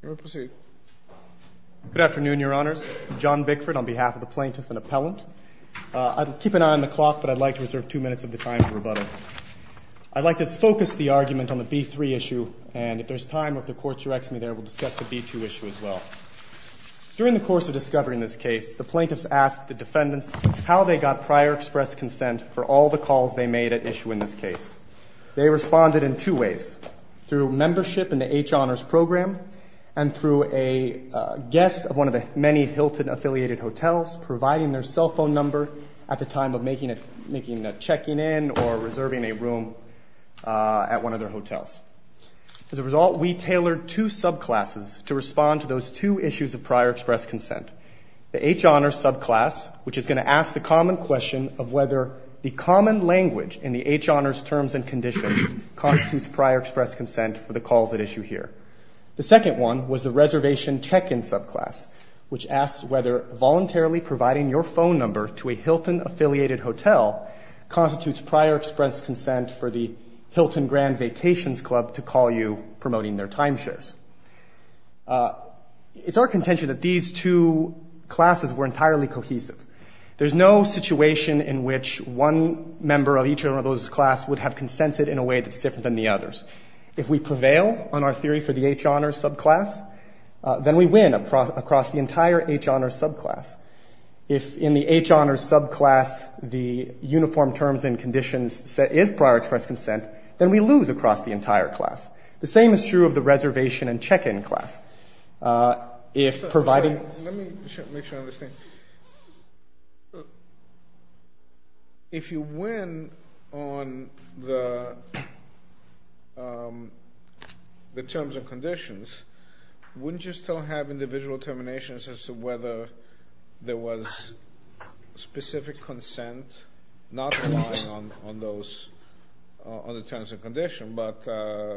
Good afternoon, Your Honors. John Bickford on behalf of the Plaintiff and Appellant. I'd keep an eye on the clock, but I'd like to reserve two minutes of the time to rebuttal. I'd like to focus the argument on the B-3 issue, and if there's time or if the Court directs me there, we'll discuss the B-2 issue as well. During the course of discovering this case, the Plaintiffs asked the defendants how they got prior express consent for all the calls they made at issue in this case. They responded in two ways, through membership in the H Honors Program and through a guest of one of the many Hilton-affiliated hotels providing their cell phone number at the time of making a checking in or reserving a room at one of their hotels. As a result, we tailored two subclasses to respond to those two issues of prior express consent. The H Honors subclass, which is going to ask the common question of whether the common language in the H Honors terms and conditions constitutes prior express consent for the calls at issue here. The second one was the reservation check-in subclass, which asks whether voluntarily providing your phone number to a Hilton-affiliated hotel constitutes prior express consent for the Hilton Grand Vacations Club to call you promoting their timeshows. It's our contention that these two classes were entirely cohesive. There's no situation in which one member of each of those classes would have consented in a way that's different than the others. If we prevail on our theory for the H Honors subclass, then we win across the entire H Honors subclass. If in the H Honors subclass the uniform terms and conditions set is prior express consent, then we lose across the entire class. The same is true of the reservation and check-in class. If providing- Let me make sure I understand. If you win on the terms and conditions, wouldn't you still have individual determinations as to whether there was specific consent not relying on those other terms and conditions, but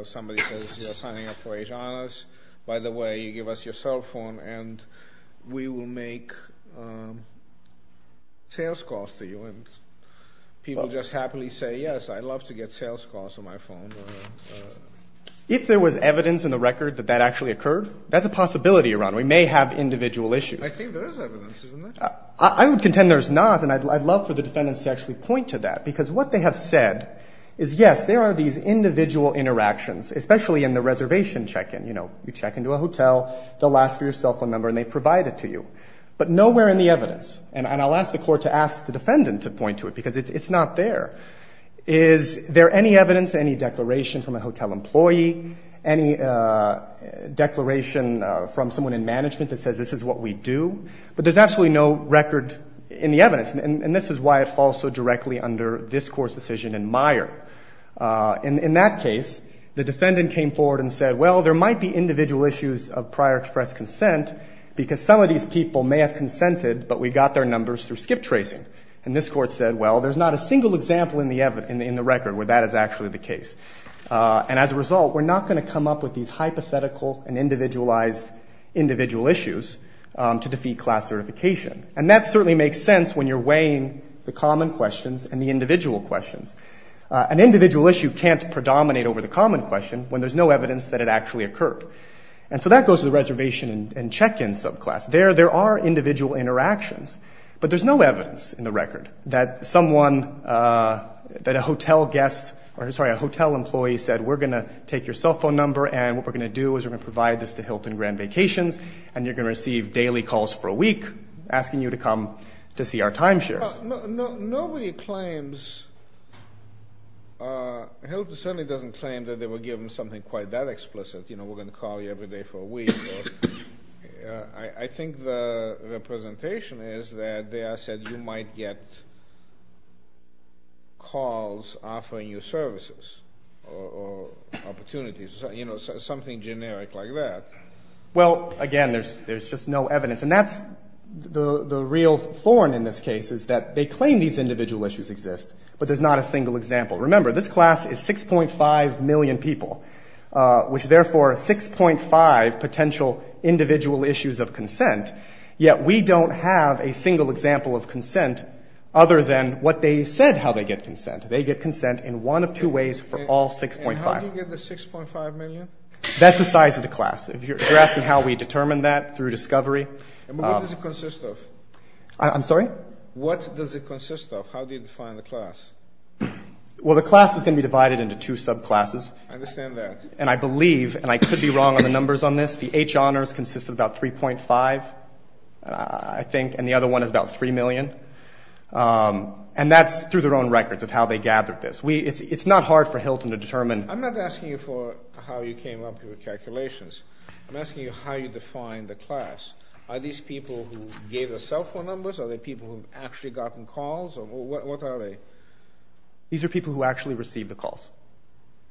somebody says, you're signing up for H Honors. By the way, you give us your cell phone, and we will make sales calls to you. And people just happily say, yes, I'd love to get sales calls on my phone. If there was evidence in the record that that actually occurred, that's a possibility, Your Honor. We may have individual issues. I think there is evidence, isn't there? I would contend there's not, and I'd love for the defendants to actually point to that. Because what they have said is, yes, there are these individual interactions, especially in the reservation check-in. You know, you check into a hotel, they'll ask for your cell phone number, and they provide it to you. But nowhere in the evidence, and I'll ask the court to ask the defendant to point to it, because it's not there. Is there any evidence, any declaration from a hotel employee, any declaration from someone in management that says this is what we do? But there's absolutely no record in the evidence. And this is why it falls so directly under this Court's decision in Meyer. In that case, the defendant came forward and said, well, there might be individual issues of prior express consent, because some of these people may have consented, but we got their numbers through skip tracing. And this Court said, well, there's not a single example in the record where that is actually the case. And as a result, we're not going to come up with these hypothetical and individualized individual issues to defeat class certification. And that certainly makes sense when you're weighing the common questions and the individual questions. An individual issue can't predominate over the common question when there's no evidence that it actually occurred. And so that goes to the reservation and check-in subclass. There are individual interactions, but there's no evidence in the record that someone, that a hotel guest, or sorry, a hotel employee said, we're going to take your cell phone number and what we're going to do is we're going to provide this to Hilton Grand Vacations, and you're going to receive daily calls for a week asking you to come to see our timeshares. Nobody claims, Hilton certainly doesn't claim that they were given something quite that explicit. You know, we're going to call you every day for a week. I think the representation is that they said you might get calls offering you services or opportunities, you know, something generic like that. Well, again, there's just no evidence. And that's the real thorn in this case is that they claim these individual issues exist, but there's not a single example. Remember, this class is 6.5 million people, which is therefore 6.5 potential individual issues of consent, yet we don't have a single example of consent other than what they said how they get consent. They get consent in one of two ways for all 6.5. And how do you get the 6.5 million? That's the size of the class. If you're asking how we determine that through discovery. What does it consist of? I'm sorry? What does it consist of? How do you define the class? Well, the class is going to be divided into two subclasses. I understand that. And I believe, and I could be wrong on the numbers on this, the H honors consists of about 3.5, I think, and the other one is about 3 million. And that's through their own records of how they gathered this. It's not hard for Hilton to determine. I'm not asking you for how you came up with your calculations. I'm asking you how you define the class. Are these people who gave the cell phone numbers? Are they people who have actually gotten calls? What are they? These are people who actually received the calls.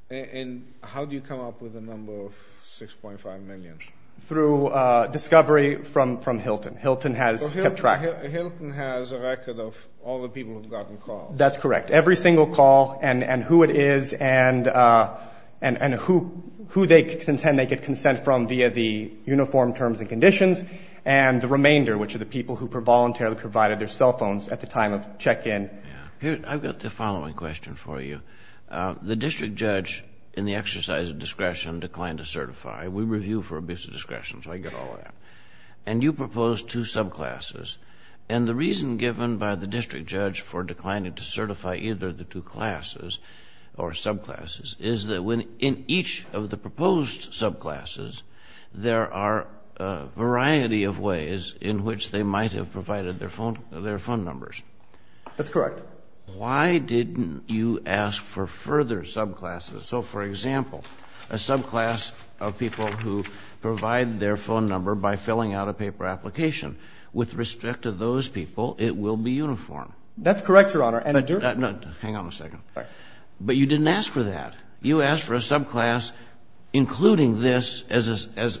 And how do you come up with a number of 6.5 million? Through discovery from Hilton. Hilton has kept track. Hilton has a record of all the people who have gotten calls. That's correct. Every single call and who it is and who they contend they get consent from via the uniform terms and conditions. And the remainder, which are the people who voluntarily provided their cell phones at the time of check-in. I've got the following question for you. The district judge in the exercise of discretion declined to certify. We review for abuse of discretion, so I get all of that. And you proposed two subclasses. And the reason given by the district judge for declining to certify either of the two classes or subclasses is that in each of the proposed subclasses, there are a variety of ways in which they might have provided their phone numbers. That's correct. Why didn't you ask for further subclasses? So, for example, a subclass of people who provide their phone number by filling out a paper application. With respect to those people, it will be uniform. That's correct, Your Honor. Hang on a second. But you didn't ask for that. You asked for a subclass including this as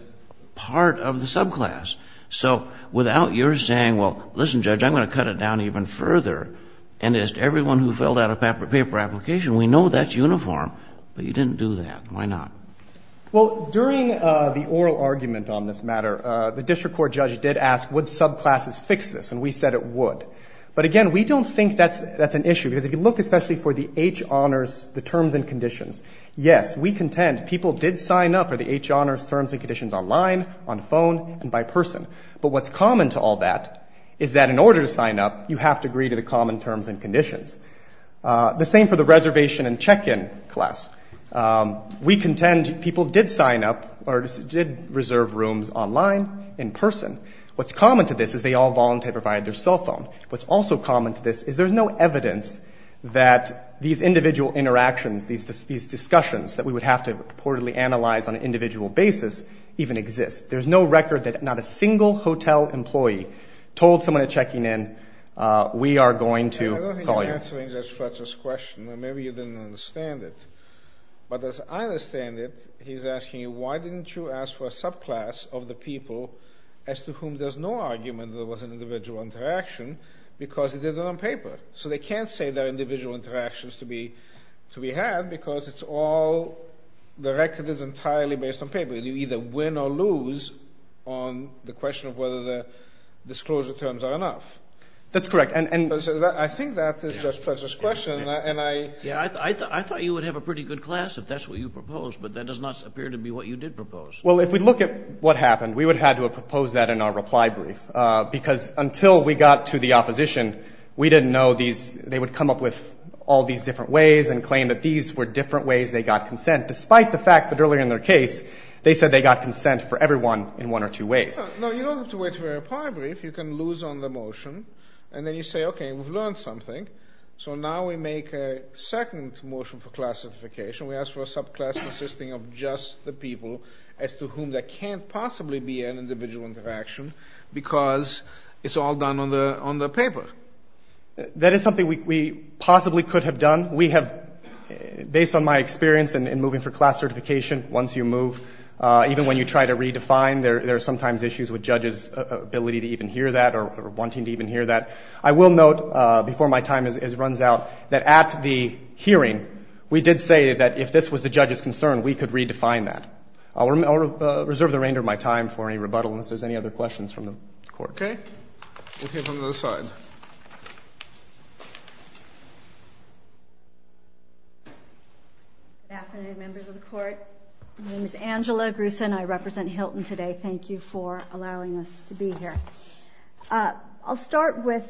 part of the subclass. So without your saying, well, listen, Judge, I'm going to cut it down even further, and as to everyone who filled out a paper application, we know that's uniform, but you didn't do that. Why not? Well, during the oral argument on this matter, the district court judge did ask, would subclasses fix this? And we said it would. But, again, we don't think that's an issue, because if you look especially for the H. Honors, the terms and conditions, yes, we contend people did sign up for the H. Honors terms and conditions online, on phone, and by person. But what's common to all that is that in order to sign up, you have to agree to the common terms and conditions. The same for the reservation and check-in class. We contend people did sign up or did reserve rooms online, in person. What's common to this is they all voluntarily provided their cell phone. What's also common to this is there's no evidence that these individual interactions, these discussions that we would have to purportedly analyze on an individual basis even exist. There's no record that not a single hotel employee told someone at check-in, we are going to call you. I don't think you're answering Judge Fletcher's question. Maybe you didn't understand it. But as I understand it, he's asking you, why didn't you ask for a subclass of the people as to whom there's no argument there was an individual interaction, because they did it on paper? So they can't say there are individual interactions to be had, because it's all, the record is entirely based on paper. You either win or lose on the question of whether the disclosure terms are enough. That's correct. I think that is Judge Fletcher's question. Yeah, I thought you would have a pretty good class if that's what you proposed, but that does not appear to be what you did propose. Well, if we look at what happened, we would have had to have proposed that in our reply brief, because until we got to the opposition, we didn't know these, they would come up with all these different ways and claim that these were different ways they got consent, despite the fact that earlier in their case, they said they got consent for everyone in one or two ways. No, you don't have to wait for a reply brief, you can lose on the motion, and then you say, okay, we've learned something, so now we make a second motion for class certification, we ask for a subclass consisting of just the people as to whom there can't possibly be an individual interaction, because it's all done on the paper. That is something we possibly could have done. We have, based on my experience in moving for class certification, once you move, even when you try to redefine, there are sometimes issues with judges' ability to even hear that or wanting to even hear that. I will note, before my time runs out, that at the hearing, we did say that if this was the judge's concern, we could redefine that. I'll reserve the remainder of my time for any rebuttal unless there's any other questions from the Court. Okay. We'll hear from the other side. Good afternoon, members of the Court. My name is Angela Grusin. I represent Hilton today. Thank you for allowing us to be here. I'll start with,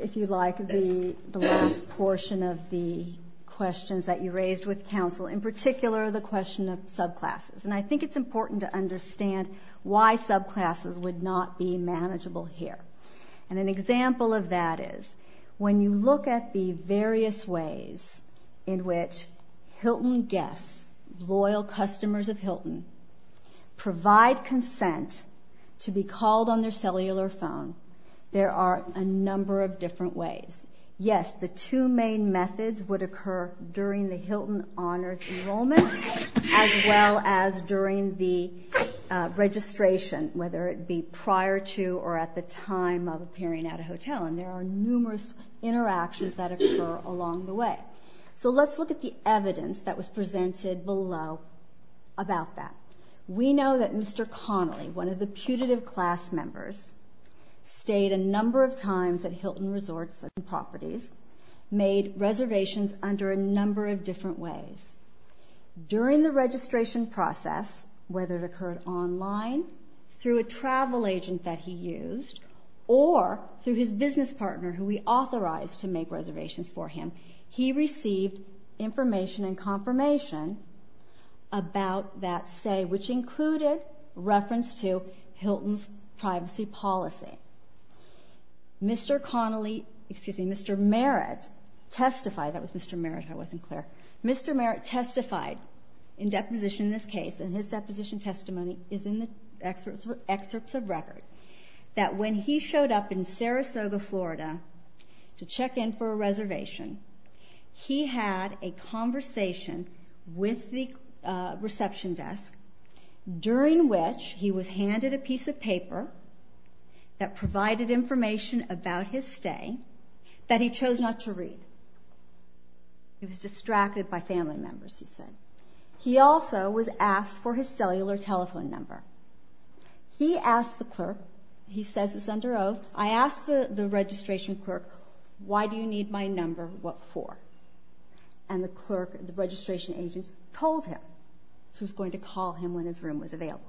if you like, the last portion of the questions that you raised with counsel, in particular the question of subclasses. I think it's important to understand why subclasses would not be manageable here. An example of that is, when you look at the various ways in which Hilton guests, loyal customers of Hilton, provide consent to be called on their cellular phone, there are a number of different ways. Yes, the two main methods would occur during the Hilton Honors enrollment as well as during the registration, whether it be prior to or at the time of appearing at a hotel, and there are numerous interactions that occur along the way. So let's look at the evidence that was presented below about that. We know that Mr. Connolly, one of the putative class members, stayed a number of times at Hilton Resorts and Properties, made reservations under a number of different ways. During the registration process, whether it occurred online, through a travel agent that he used, or through his business partner who he authorized to make reservations for him, he received information and confirmation about that stay, which included reference to Hilton's privacy policy. Mr. Merritt testified in deposition in this case, and his deposition testimony is in the excerpts of record, that when he showed up in Sarasota, Florida to check in for a reservation, he had a conversation with the reception desk, during which he was handed a piece of paper that provided information about his stay that he chose not to read. He was distracted by family members, he said. He also was asked for his cellular telephone number. He asked the clerk, he says it's under oath, I asked the registration clerk, why do you need my number, what for? And the clerk, the registration agent, told him. So he was going to call him when his room was available.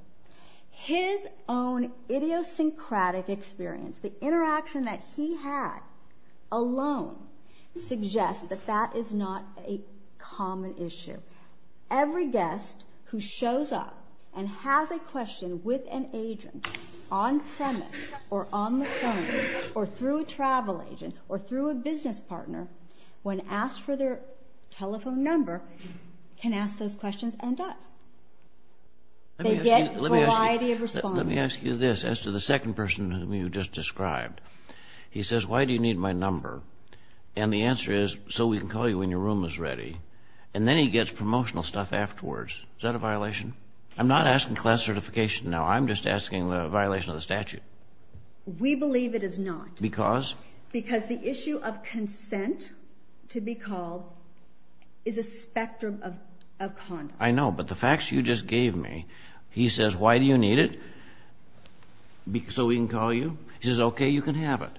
His own idiosyncratic experience, the interaction that he had alone, suggests that that is not a common issue. Every guest who shows up and has a question with an agent, on premise, or on the phone, or through a travel agent, or through a business partner, when asked for their telephone number, can ask those questions and does. They get a variety of responses. Let me ask you this, as to the second person whom you just described. He says, why do you need my number? And the answer is, so we can call you when your room is ready. And then he gets promotional stuff afterwards. Is that a violation? I'm not asking class certification now, I'm just asking a violation of the statute. We believe it is not. Because? Because the issue of consent to be called is a spectrum of conduct. I know, but the facts you just gave me, he says, why do you need it? So we can call you? He says, okay, you can have it.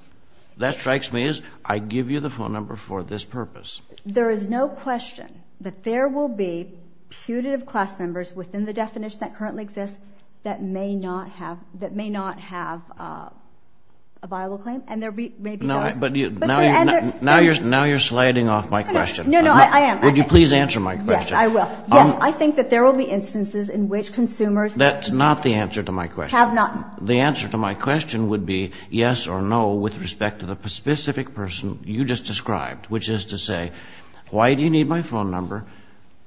That strikes me as, I give you the phone number for this purpose. There is no question that there will be putative class members within the definition that currently exists that may not have a viable claim, and there may be those. Now you're sliding off my question. No, no, I am. Would you please answer my question? Yes, I will. Yes, I think that there will be instances in which consumers have not. That's not the answer to my question. The answer to my question would be yes or no with respect to the specific person you just described, which is to say, why do you need my phone number?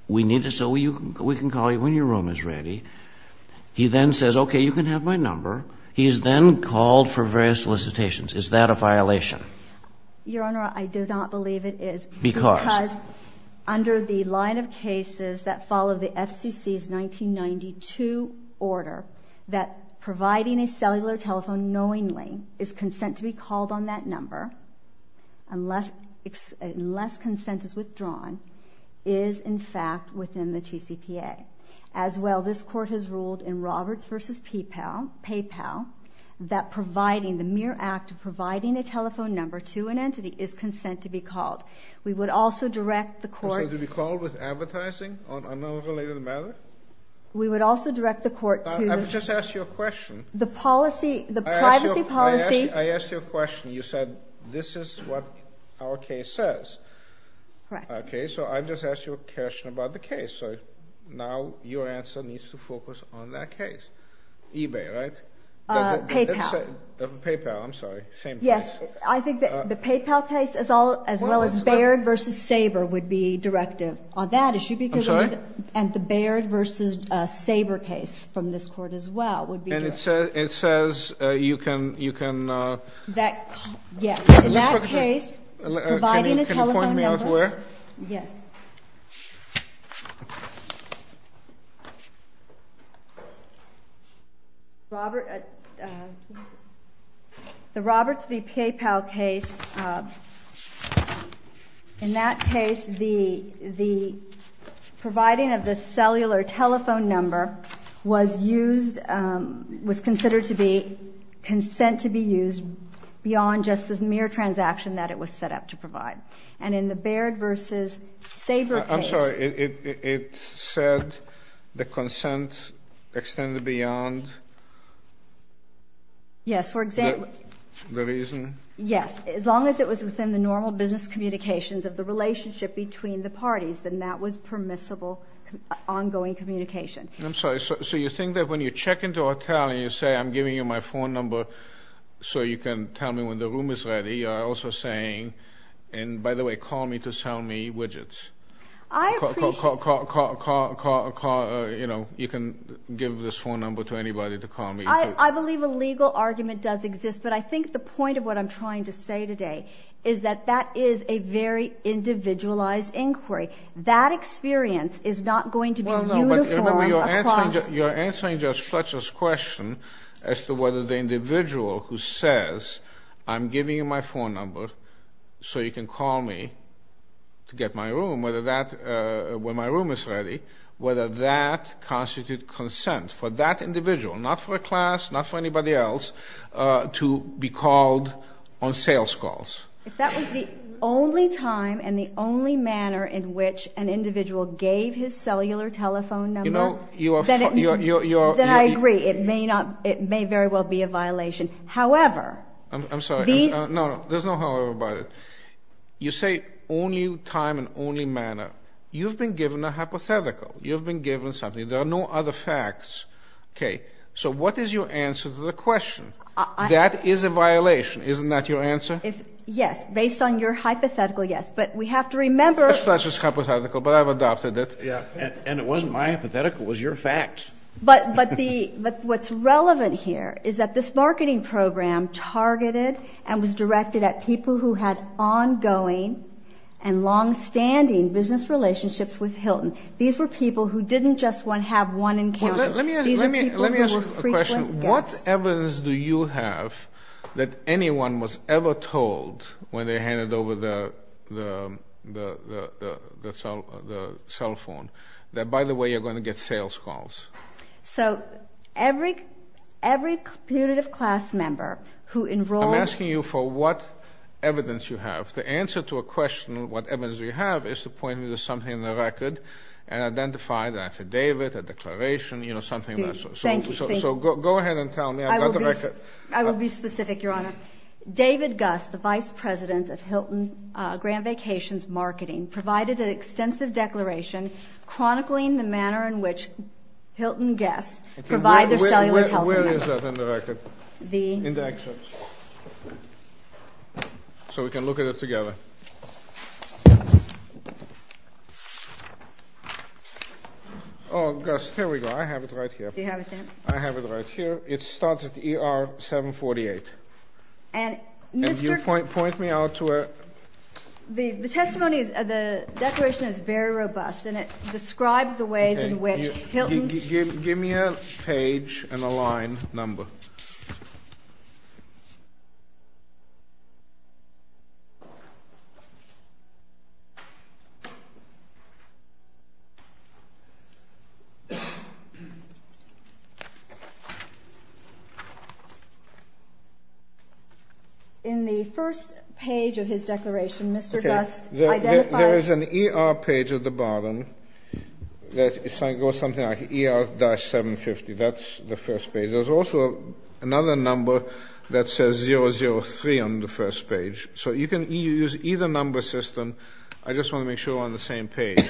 We can call you when your room is ready. He then says, okay, you can have my number. He is then called for various solicitations. Is that a violation? Your Honor, I do not believe it is. Because? Because under the line of cases that follow the FCC's 1992 order, that providing a cellular telephone knowingly is consent to be called on that number unless consent is withdrawn is, in fact, within the TCPA. As well, this Court has ruled in Roberts v. PayPal that providing, the mere act of providing a telephone number to an entity is consent to be called. We would also direct the Court. So to be called with advertising on another related matter? We would also direct the Court to. I would just ask you a question. The policy, the privacy policy. I asked you a question. You said this is what our case says. Correct. Okay. So I just asked you a question about the case. So now your answer needs to focus on that case. eBay, right? PayPal. PayPal, I'm sorry. Same place. Yes. I think the PayPal case as well as Baird v. Sabre would be directive on that issue. I'm sorry? And the Baird v. Sabre case from this Court as well would be. And it says you can. Yes. In that case, providing a telephone number. Can you point me out where? Yes. The Roberts v. PayPal case. In that case, the providing of the cellular telephone number was used, was considered to be, consent to be used beyond just this mere transaction and in the Baird v. Sabre case. I'm sorry. It said the consent extended beyond the reason? Yes. As long as it was within the normal business communications of the relationship between the parties, then that was permissible ongoing communication. I'm sorry. So you think that when you check into a hotel and you say, I'm giving you my phone number so you can tell me when the room is ready, you're also saying, and by the way, call me to sell me widgets. I appreciate. You can give this phone number to anybody to call me. I believe a legal argument does exist, but I think the point of what I'm trying to say today is that that is a very individualized inquiry. That experience is not going to be uniform across. You're answering Judge Fletcher's question as to whether the individual who says, I'm giving you my phone number so you can call me to get my room, whether that, when my room is ready, whether that constitutes consent for that individual, not for a class, not for anybody else, to be called on sales calls. If that was the only time and the only manner in which an individual gave his cellular telephone number, then I agree. It may very well be a violation. However. I'm sorry. No, no. There's no however about it. You say only time and only manner. You've been given a hypothetical. You've been given something. There are no other facts. Okay. So what is your answer to the question? That is a violation. Isn't that your answer? Yes. Based on your hypothetical, yes. But we have to remember. That's just hypothetical, but I've adopted it. Yeah. And it wasn't my hypothetical. It was your fact. But what's relevant here is that this marketing program targeted and was directed at people who had ongoing and longstanding business relationships with Hilton. These were people who didn't just have one encounter. Let me ask you a question. What evidence do you have that anyone was ever told when they handed over the cell phone that, by the way, you're going to get sales calls? So every punitive class member who enrolled. I'm asking you for what evidence you have. The answer to a question, what evidence do you have, is to point me to something in the record and identify the affidavit, a declaration, you know, something. Thank you. So go ahead and tell me. I've got the record. I will be specific, Your Honor. David Gus, the vice president of Hilton Grand Vacations Marketing, provided an extensive declaration chronicling the manner in which Hilton guests provide their cellular telephony. Where is that in the record? In the excerpt. So we can look at it together. Oh, Gus, here we go. I have it right here. I have it right here. It starts at ER 748. And, Mr. ---- And you point me out to a ---- The testimony is, the declaration is very robust, and it describes the ways in which Hilton ---- Give me a page and a line number. In the first page of his declaration, Mr. Gus identifies ---- There is an ER page at the bottom that goes something like ER-750. That's the first page. There's also another number that says 003 on the first page. So you can use either number system. I just want to make sure we're on the same page.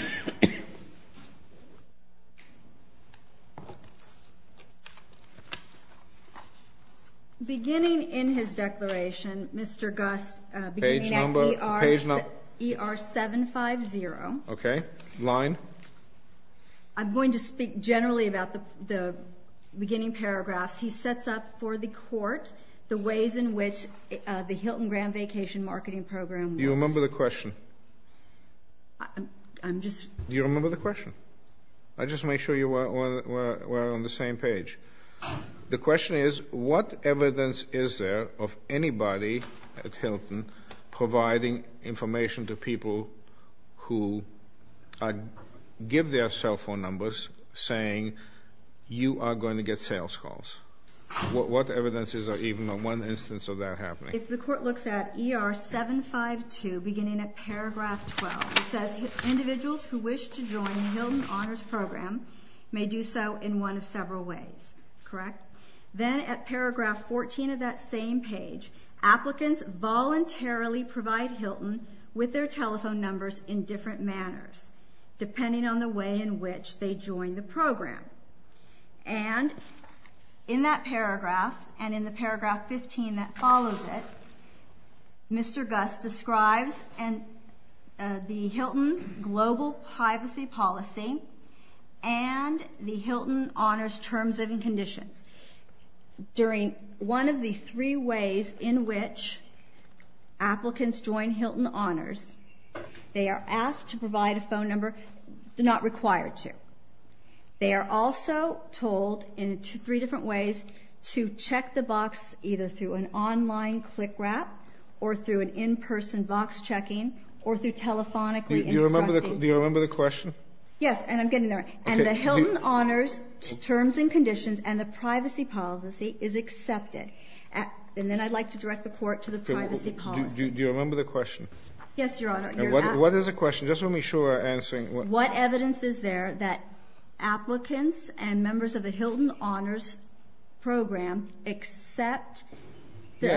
Beginning in his declaration, Mr. Gus ---- Page number. ER-750. Okay. Line. I'm going to speak generally about the beginning paragraphs. He sets up for the court the ways in which the Hilton Grand Vacation Marketing program works. Do you remember the question? I'm just ---- Do you remember the question? I'll just make sure we're on the same page. The question is, what evidence is there of anybody at Hilton providing information to people who give their cell phone numbers, saying you are going to get sales calls? What evidence is there of even one instance of that happening? If the court looks at ER-752, beginning at paragraph 12, it says, individuals who wish to join the Hilton Honors Program may do so in one of several ways. Correct? Then at paragraph 14 of that same page, applicants voluntarily provide Hilton with their telephone numbers in different manners, depending on the way in which they join the program. And in that paragraph, and in the paragraph 15 that follows it, Mr. Gus describes the Hilton Global Privacy Policy and the Hilton Honors Terms and Conditions. During one of the three ways in which applicants join Hilton Honors, they are asked to provide a phone number, not required to. They are also told, in three different ways, to check the box either through an online click wrap, or through an in-person box checking, or through telephonically instructing. Do you remember the question? Yes, and I'm getting there. And the Hilton Honors Terms and Conditions and the Privacy Policy is accepted. And then I'd like to direct the court to the Privacy Policy. Do you remember the question? Yes, Your Honor. What is the question? Just want to be sure we're answering. What evidence is there that applicants and members of the Hilton Honors Program accept, agree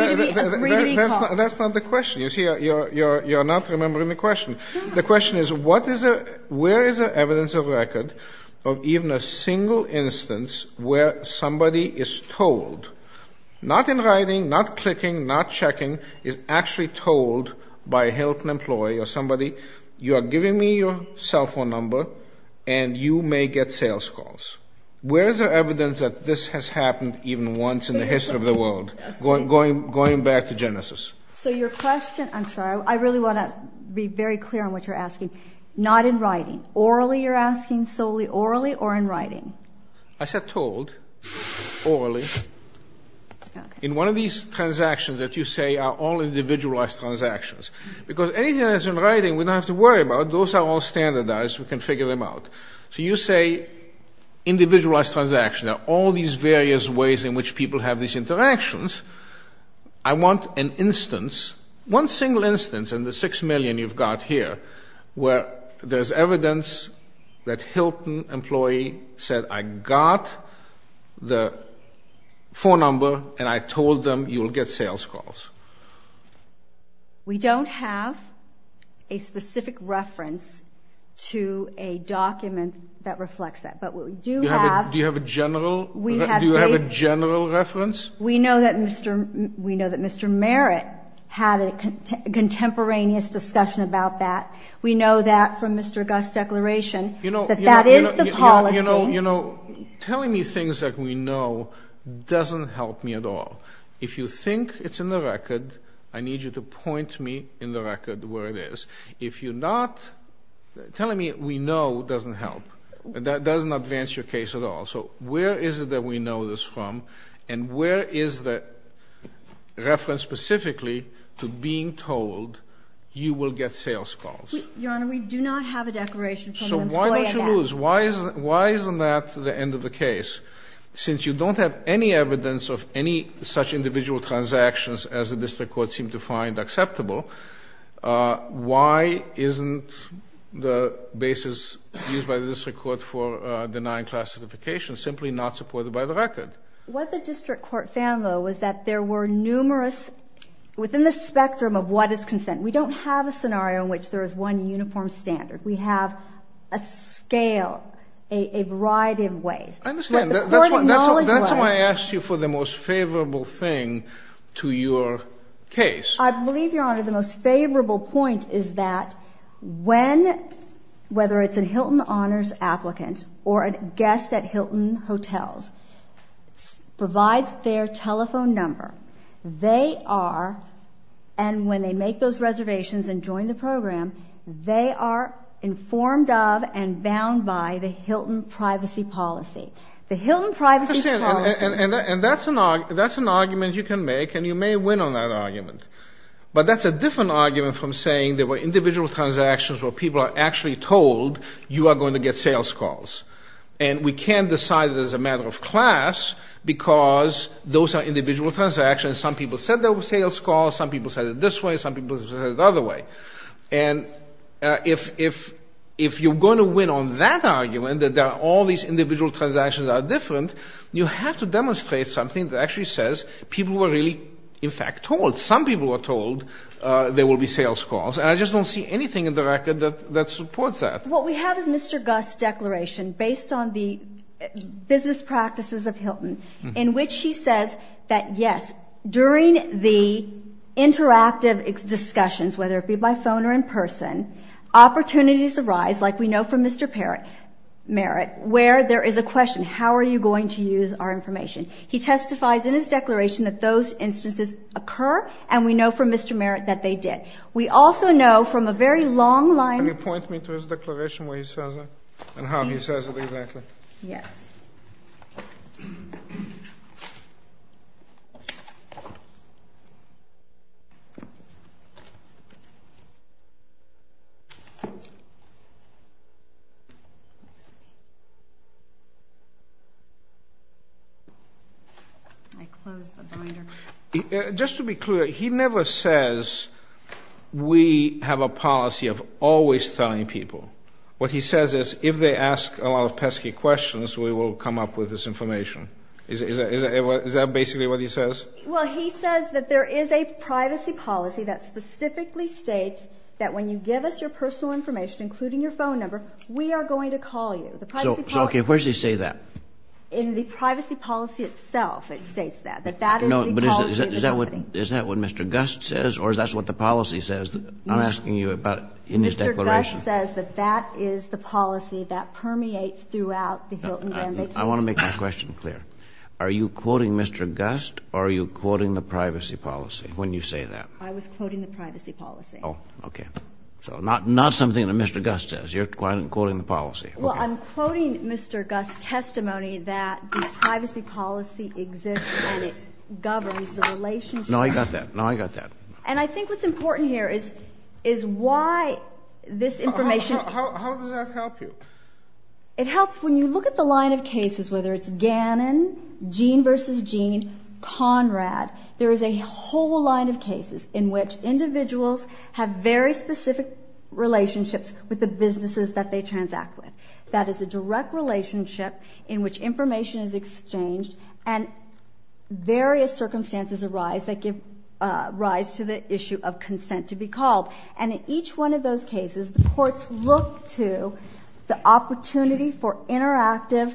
to be called? That's not the question. You see, you're not remembering the question. The question is, where is there evidence of record of even a single instance where somebody is told, not in writing, not clicking, not checking, is actually told by a Hilton employee or somebody, you are giving me your cell phone number and you may get sales calls. Where is there evidence that this has happened even once in the history of the world, going back to Genesis? So your question, I'm sorry, I really want to be very clear on what you're asking, not in writing. Orally you're asking, solely orally or in writing? I said told, orally. In one of these transactions that you say are all individualized transactions. Because anything that's in writing we don't have to worry about. Those are all standardized. We can figure them out. So you say individualized transactions are all these various ways in which people have these interactions. I want an instance, one single instance in the six million you've got here, where there's evidence that Hilton employee said I got the phone number and I told them you'll get sales calls. We don't have a specific reference to a document that reflects that. But what we do have. Do you have a general reference? We know that Mr. Merritt had a contemporaneous discussion about that. We know that from Mr. Guss' declaration that that is the policy. You know, telling me things that we know doesn't help me at all. If you think it's in the record, I need you to point me in the record where it is. If you're not telling me we know doesn't help, that doesn't advance your case at all. So where is it that we know this from? And where is the reference specifically to being told you will get sales calls? Your Honor, we do not have a declaration from an employee. So why don't you lose? Why isn't that the end of the case? Since you don't have any evidence of any such individual transactions as the district court seemed to find acceptable, why isn't the basis used by the district court for denying class certification simply not supported by the record? What the district court found, though, was that there were numerous within the spectrum of what is consent. We don't have a scenario in which there is one uniform standard. We have a scale, a variety of ways. I understand. That's why I asked you for the most favorable thing to your case. I believe, Your Honor, the most favorable point is that when, whether it's a Hilton Honors applicant or a guest at Hilton Hotels provides their telephone number, they are, and when they make those reservations and join the program, they are informed of and bound by the Hilton privacy policy. The Hilton privacy policy— And that's an argument you can make, and you may win on that argument. But that's a different argument from saying there were individual transactions where people are actually told you are going to get sales calls. And we can't decide that as a matter of class because those are individual transactions. Some people said there were sales calls. Some people said it this way. Some people said it the other way. And if you're going to win on that argument, that all these individual transactions are different, you have to demonstrate something that actually says people were really, in fact, told. Some people were told there will be sales calls. And I just don't see anything in the record that supports that. What we have is Mr. Guss' declaration based on the business practices of Hilton, in which he says that, yes, during the interactive discussions, whether it be by phone or in person, opportunities arise, like we know from Mr. Merritt, where there is a question, how are you going to use our information? He testifies in his declaration that those instances occur, and we know from Mr. Merritt that they did. We also know from a very long line— Can you point me to his declaration where he says that and how he says it exactly? Yes. Yes. Just to be clear, he never says we have a policy of always telling people. What he says is if they ask a lot of pesky questions, we will come up with this information. Is that basically what he says? Well, he says that there is a privacy policy that specifically states that when you give us your personal information, including your phone number, we are going to call you. The privacy policy— So, okay, where does he say that? In the privacy policy itself, it states that, that that is the policy of the company. No, but is that what Mr. Guss says, or is that what the policy says? I'm asking you about in his declaration. He says that that is the policy that permeates throughout the Hilton Gambit case. I want to make my question clear. Are you quoting Mr. Guss, or are you quoting the privacy policy when you say that? I was quoting the privacy policy. Oh, okay. So not something that Mr. Guss says. You're quoting the policy. Okay. Well, I'm quoting Mr. Guss' testimony that the privacy policy exists and it governs the relationship— No, I got that. No, I got that. And I think what's important here is why this information— How does that help you? It helps when you look at the line of cases, whether it's Gannon, Gene v. Gene, Conrad, there is a whole line of cases in which individuals have very specific relationships with the businesses that they transact with. That is a direct relationship in which information is exchanged and various circumstances arise that give rise to the issue of consent to be called. And in each one of those cases, the courts look to the opportunity for interactive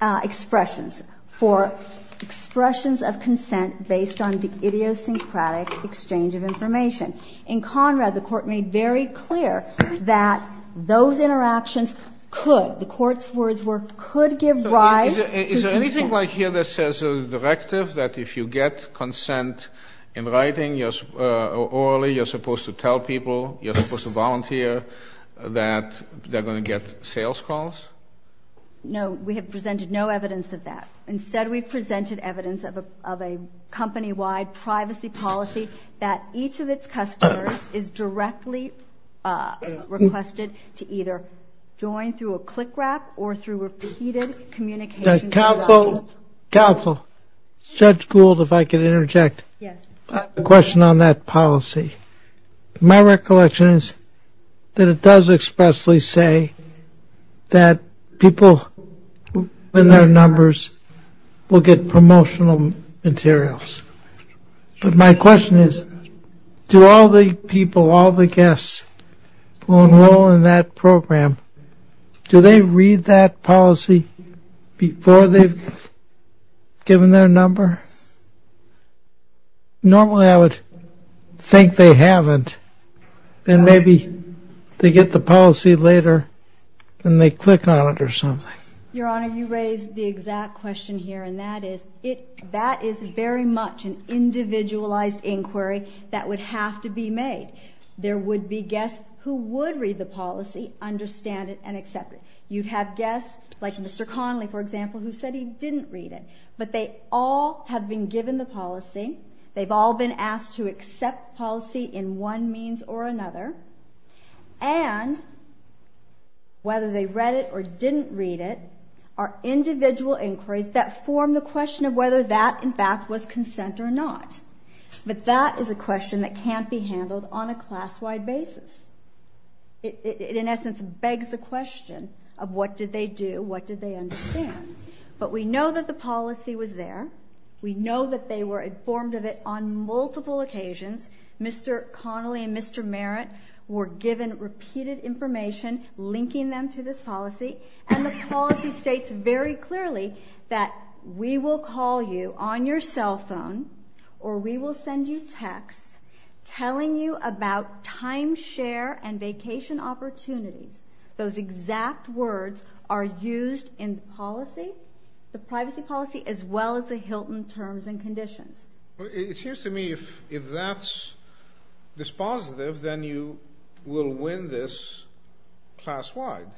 expressions, for expressions of consent based on the idiosyncratic exchange of information. In Conrad, the Court made very clear that those interactions could, the Court's words were, could give rise to— Anything like here that says a directive that if you get consent in writing or orally, you're supposed to tell people, you're supposed to volunteer that they're going to get sales calls? No, we have presented no evidence of that. Instead, we've presented evidence of a company-wide privacy policy that each of its customers is directly requested to either join through a click wrap or through repeated communication— Counsel, Counsel, Judge Gould, if I could interject. Yes. A question on that policy. My recollection is that it does expressly say that people in their numbers will get promotional materials. But my question is, do all the people, all the guests who enroll in that program, do they read that policy before they've given their number? Normally, I would think they haven't. Then maybe they get the policy later and they click on it or something. Your Honor, you raise the exact question here, and that is, it, that is very much an individualized inquiry that would have to be made. There would be guests who would read the policy, understand it, and accept it. You'd have guests, like Mr. Connolly, for example, who said he didn't read it. But they all have been given the policy. They've all been asked to accept policy in one means or another. And whether they read it or didn't read it are individual inquiries that form the question of whether that, in fact, was consent or not. But that is a question that can't be handled on a class-wide basis. It, in essence, begs the question of what did they do, what did they understand. But we know that the policy was there. We know that they were informed of it on multiple occasions. Mr. Connolly and Mr. Merritt were given repeated information linking them to this policy. And the policy states very clearly that we will call you on your cell phone or we will send you texts telling you about timeshare and vacation opportunities. Those exact words are used in the policy, the privacy policy, as well as the Hilton terms and conditions. Well, it seems to me if that's dispositive, then you will win this class-wide.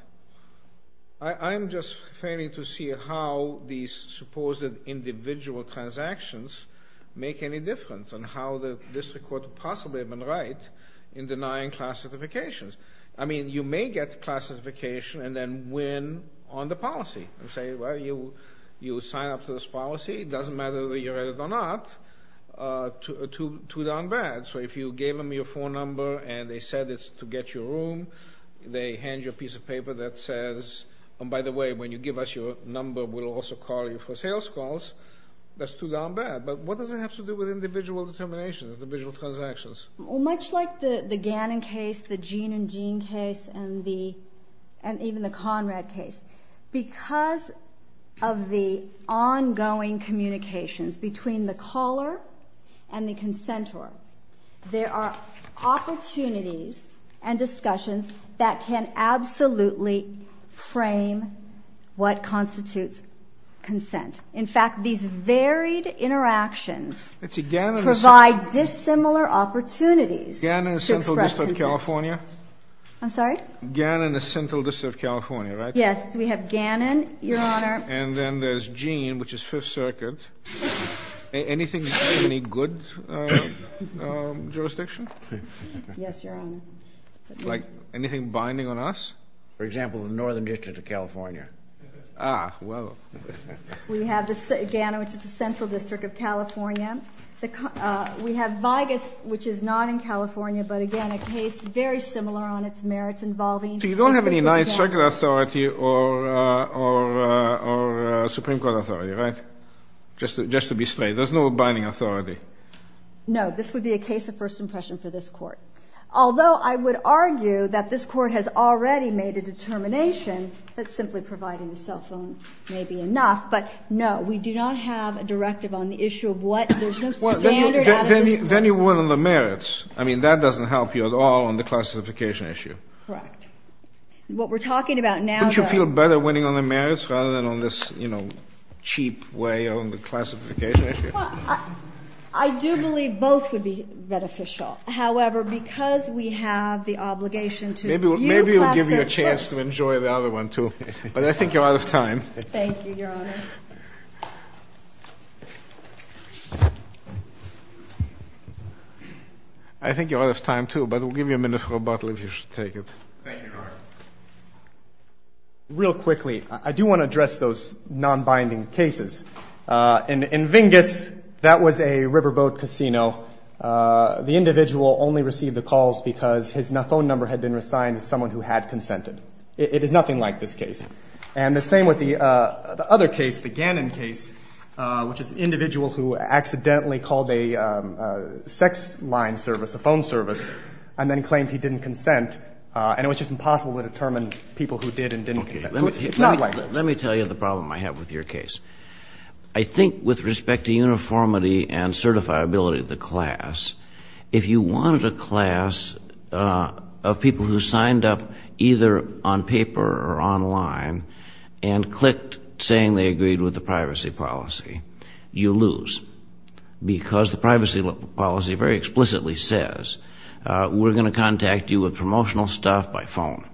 I'm just failing to see how these supposed individual transactions make any difference and how this could possibly have been right in denying class certifications. I mean, you may get class certification and then win on the policy and say, well, you signed up to this policy. It doesn't matter whether you read it or not. Too darn bad. So if you gave them your phone number and they said it's to get your room, they hand you a piece of paper that says, and by the way, when you give us your number, we'll also call you for sales calls. That's too darn bad. But what does it have to do with individual determination, individual transactions? Well, much like the Gannon case, the Gene and Gene case, and even the Conrad case, because of the ongoing communications between the caller and the consentor, there are opportunities and discussions that can absolutely frame what constitutes consent. In fact, these varied interactions provide dissimilar opportunities. Gannon, Central District of California. I'm sorry? Gannon, Central District of California, right? Yes. We have Gannon, Your Honor. And then there's Gene, which is Fifth Circuit. Anything in any good jurisdiction? Yes, Your Honor. Like anything binding on us? For example, the Northern District of California. Ah, well. We have Gannon, which is the Central District of California. We have Vigas, which is not in California, but, again, a case very similar on its merits involving individual transactions. There's no authority or Supreme Court authority, right? Just to be straight. There's no binding authority. No. This would be a case of first impression for this Court. Although I would argue that this Court has already made a determination that simply providing the cell phone may be enough. But, no, we do not have a directive on the issue of what there's no standard out of this Court. Then you were on the merits. I mean, that doesn't help you at all on the classification issue. Correct. What we're talking about now. Don't you feel better winning on the merits rather than on this, you know, cheap way on the classification issue? Well, I do believe both would be beneficial. However, because we have the obligation to review classified. Maybe we'll give you a chance to enjoy the other one, too. But I think you're out of time. Thank you, Your Honor. I think you're out of time, too, but we'll give you a minute for a bottle if you wish to take it. Thank you, Your Honor. Real quickly, I do want to address those non-binding cases. In Vingas, that was a riverboat casino. The individual only received the calls because his phone number had been resigned to someone who had consented. It is nothing like this case. And the same with the other case, the Gannon case, which is an individual who accidentally called a sex line service, a phone service, and then claimed he didn't consent. And it was just impossible to determine people who did and didn't consent. It's not like this. Let me tell you the problem I have with your case. I think with respect to uniformity and certifiability of the class, if you wanted a class of people who signed up either on paper or online and clicked saying they agreed with the privacy policy, you lose. Because the privacy policy very explicitly says we're going to contact you with promotional stuff by phone.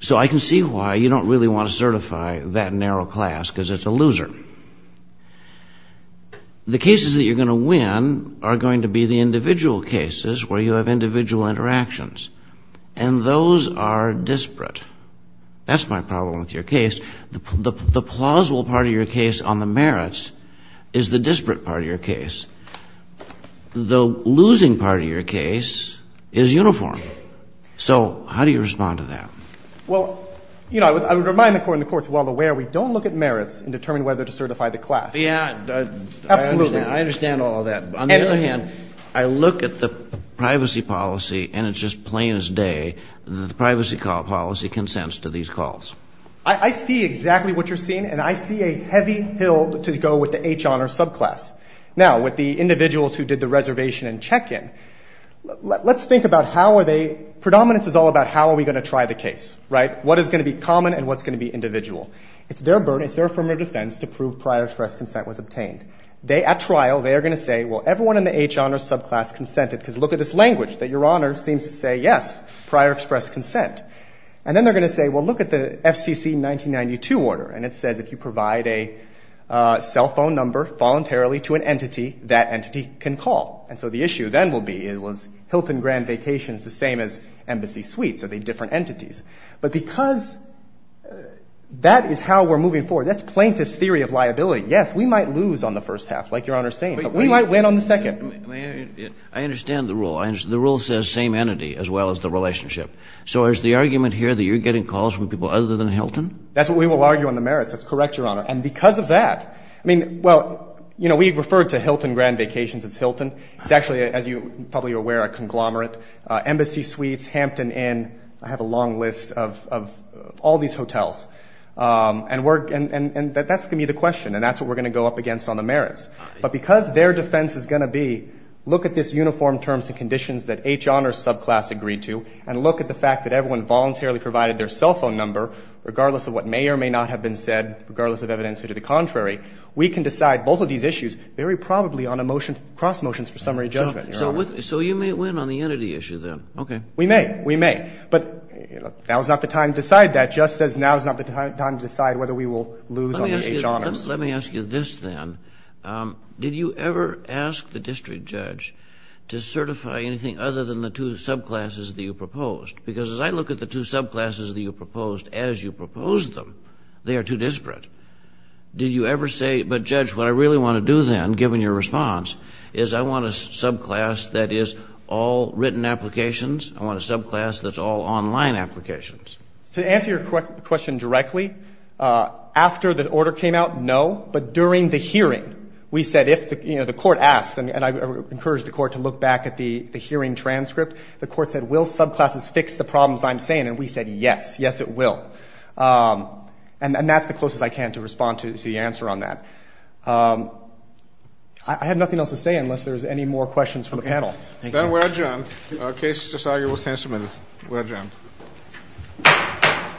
So I can see why you don't really want to certify that narrow class because it's a loser. The cases that you're going to win are going to be the individual cases where you have individual interactions. And those are disparate. That's my problem with your case. The plausible part of your case on the merits is the disparate part of your case. The losing part of your case is uniform. So how do you respond to that? Well, you know, I would remind the Court and the Court's well aware we don't look at merits and determine whether to certify the class. Yeah, I understand. Absolutely. I understand all of that. On the other hand, I look at the privacy policy and it's just plain as day that the privacy policy consents to these calls. I see exactly what you're seeing. And I see a heavy hill to go with the H honor subclass. Now, with the individuals who did the reservation and check-in, let's think about how are they, predominance is all about how are we going to try the case, right? What is going to be common and what's going to be individual? It's their burden, it's their affirmative defense to prove prior express consent was obtained. They, at trial, they are going to say, well, everyone in the H honor subclass consented because look at this language that your honor seems to say, yes, prior express consent. And then they're going to say, well, look at the FCC 1992 order. And it says if you provide a cell phone number voluntarily to an entity, that entity can call. And so the issue then will be, was Hilton Grand Vacations the same as Embassy Suites? Are they different entities? But because that is how we're moving forward. That's plaintiff's theory of liability. Yes, we might lose on the first half, like your honor is saying, but we might win on the second. I understand the rule. The rule says same entity as well as the relationship. So is the argument here that you're getting calls from people other than Hilton? That's what we will argue on the merits. That's correct, your honor. And because of that, I mean, well, you know, we referred to Hilton Grand Vacations as Hilton. It's actually, as you're probably aware, a conglomerate. Embassy Suites, Hampton Inn, I have a long list of all these hotels. And that's going to be the question. And that's what we're going to go up against on the merits. But because their defense is going to be, look at this uniform terms and conditions that H. Honors subclass agreed to and look at the fact that everyone voluntarily provided their cell phone number, regardless of what may or may not have been said, regardless of evidence or to the contrary, we can decide both of these issues very probably on a motion, cross motions for summary judgment, your honor. So you may win on the entity issue, then. Okay. We may. We may. But now is not the time to decide that, just as now is not the time to decide whether we will lose on the H. Honors. Let me ask you this, then. Did you ever ask the district judge to certify anything other than the two subclasses that you proposed? Because as I look at the two subclasses that you proposed, as you proposed them, they are too disparate. Did you ever say, but judge, what I really want to do, then, given your response, is I want a subclass that is all written applications. I want a subclass that's all online applications. To answer your question directly, after the order came out, no. But during the hearing, we said if the court asked, and I encourage the court to look back at the hearing transcript, the court said, will subclasses fix the problems I'm saying? And we said, yes. Yes, it will. And that's the closest I can to respond to the answer on that. I have nothing else to say unless there's any more questions from the panel. Thank you. Then we're adjourned. The case is decided. We'll stand submitted. We're adjourned.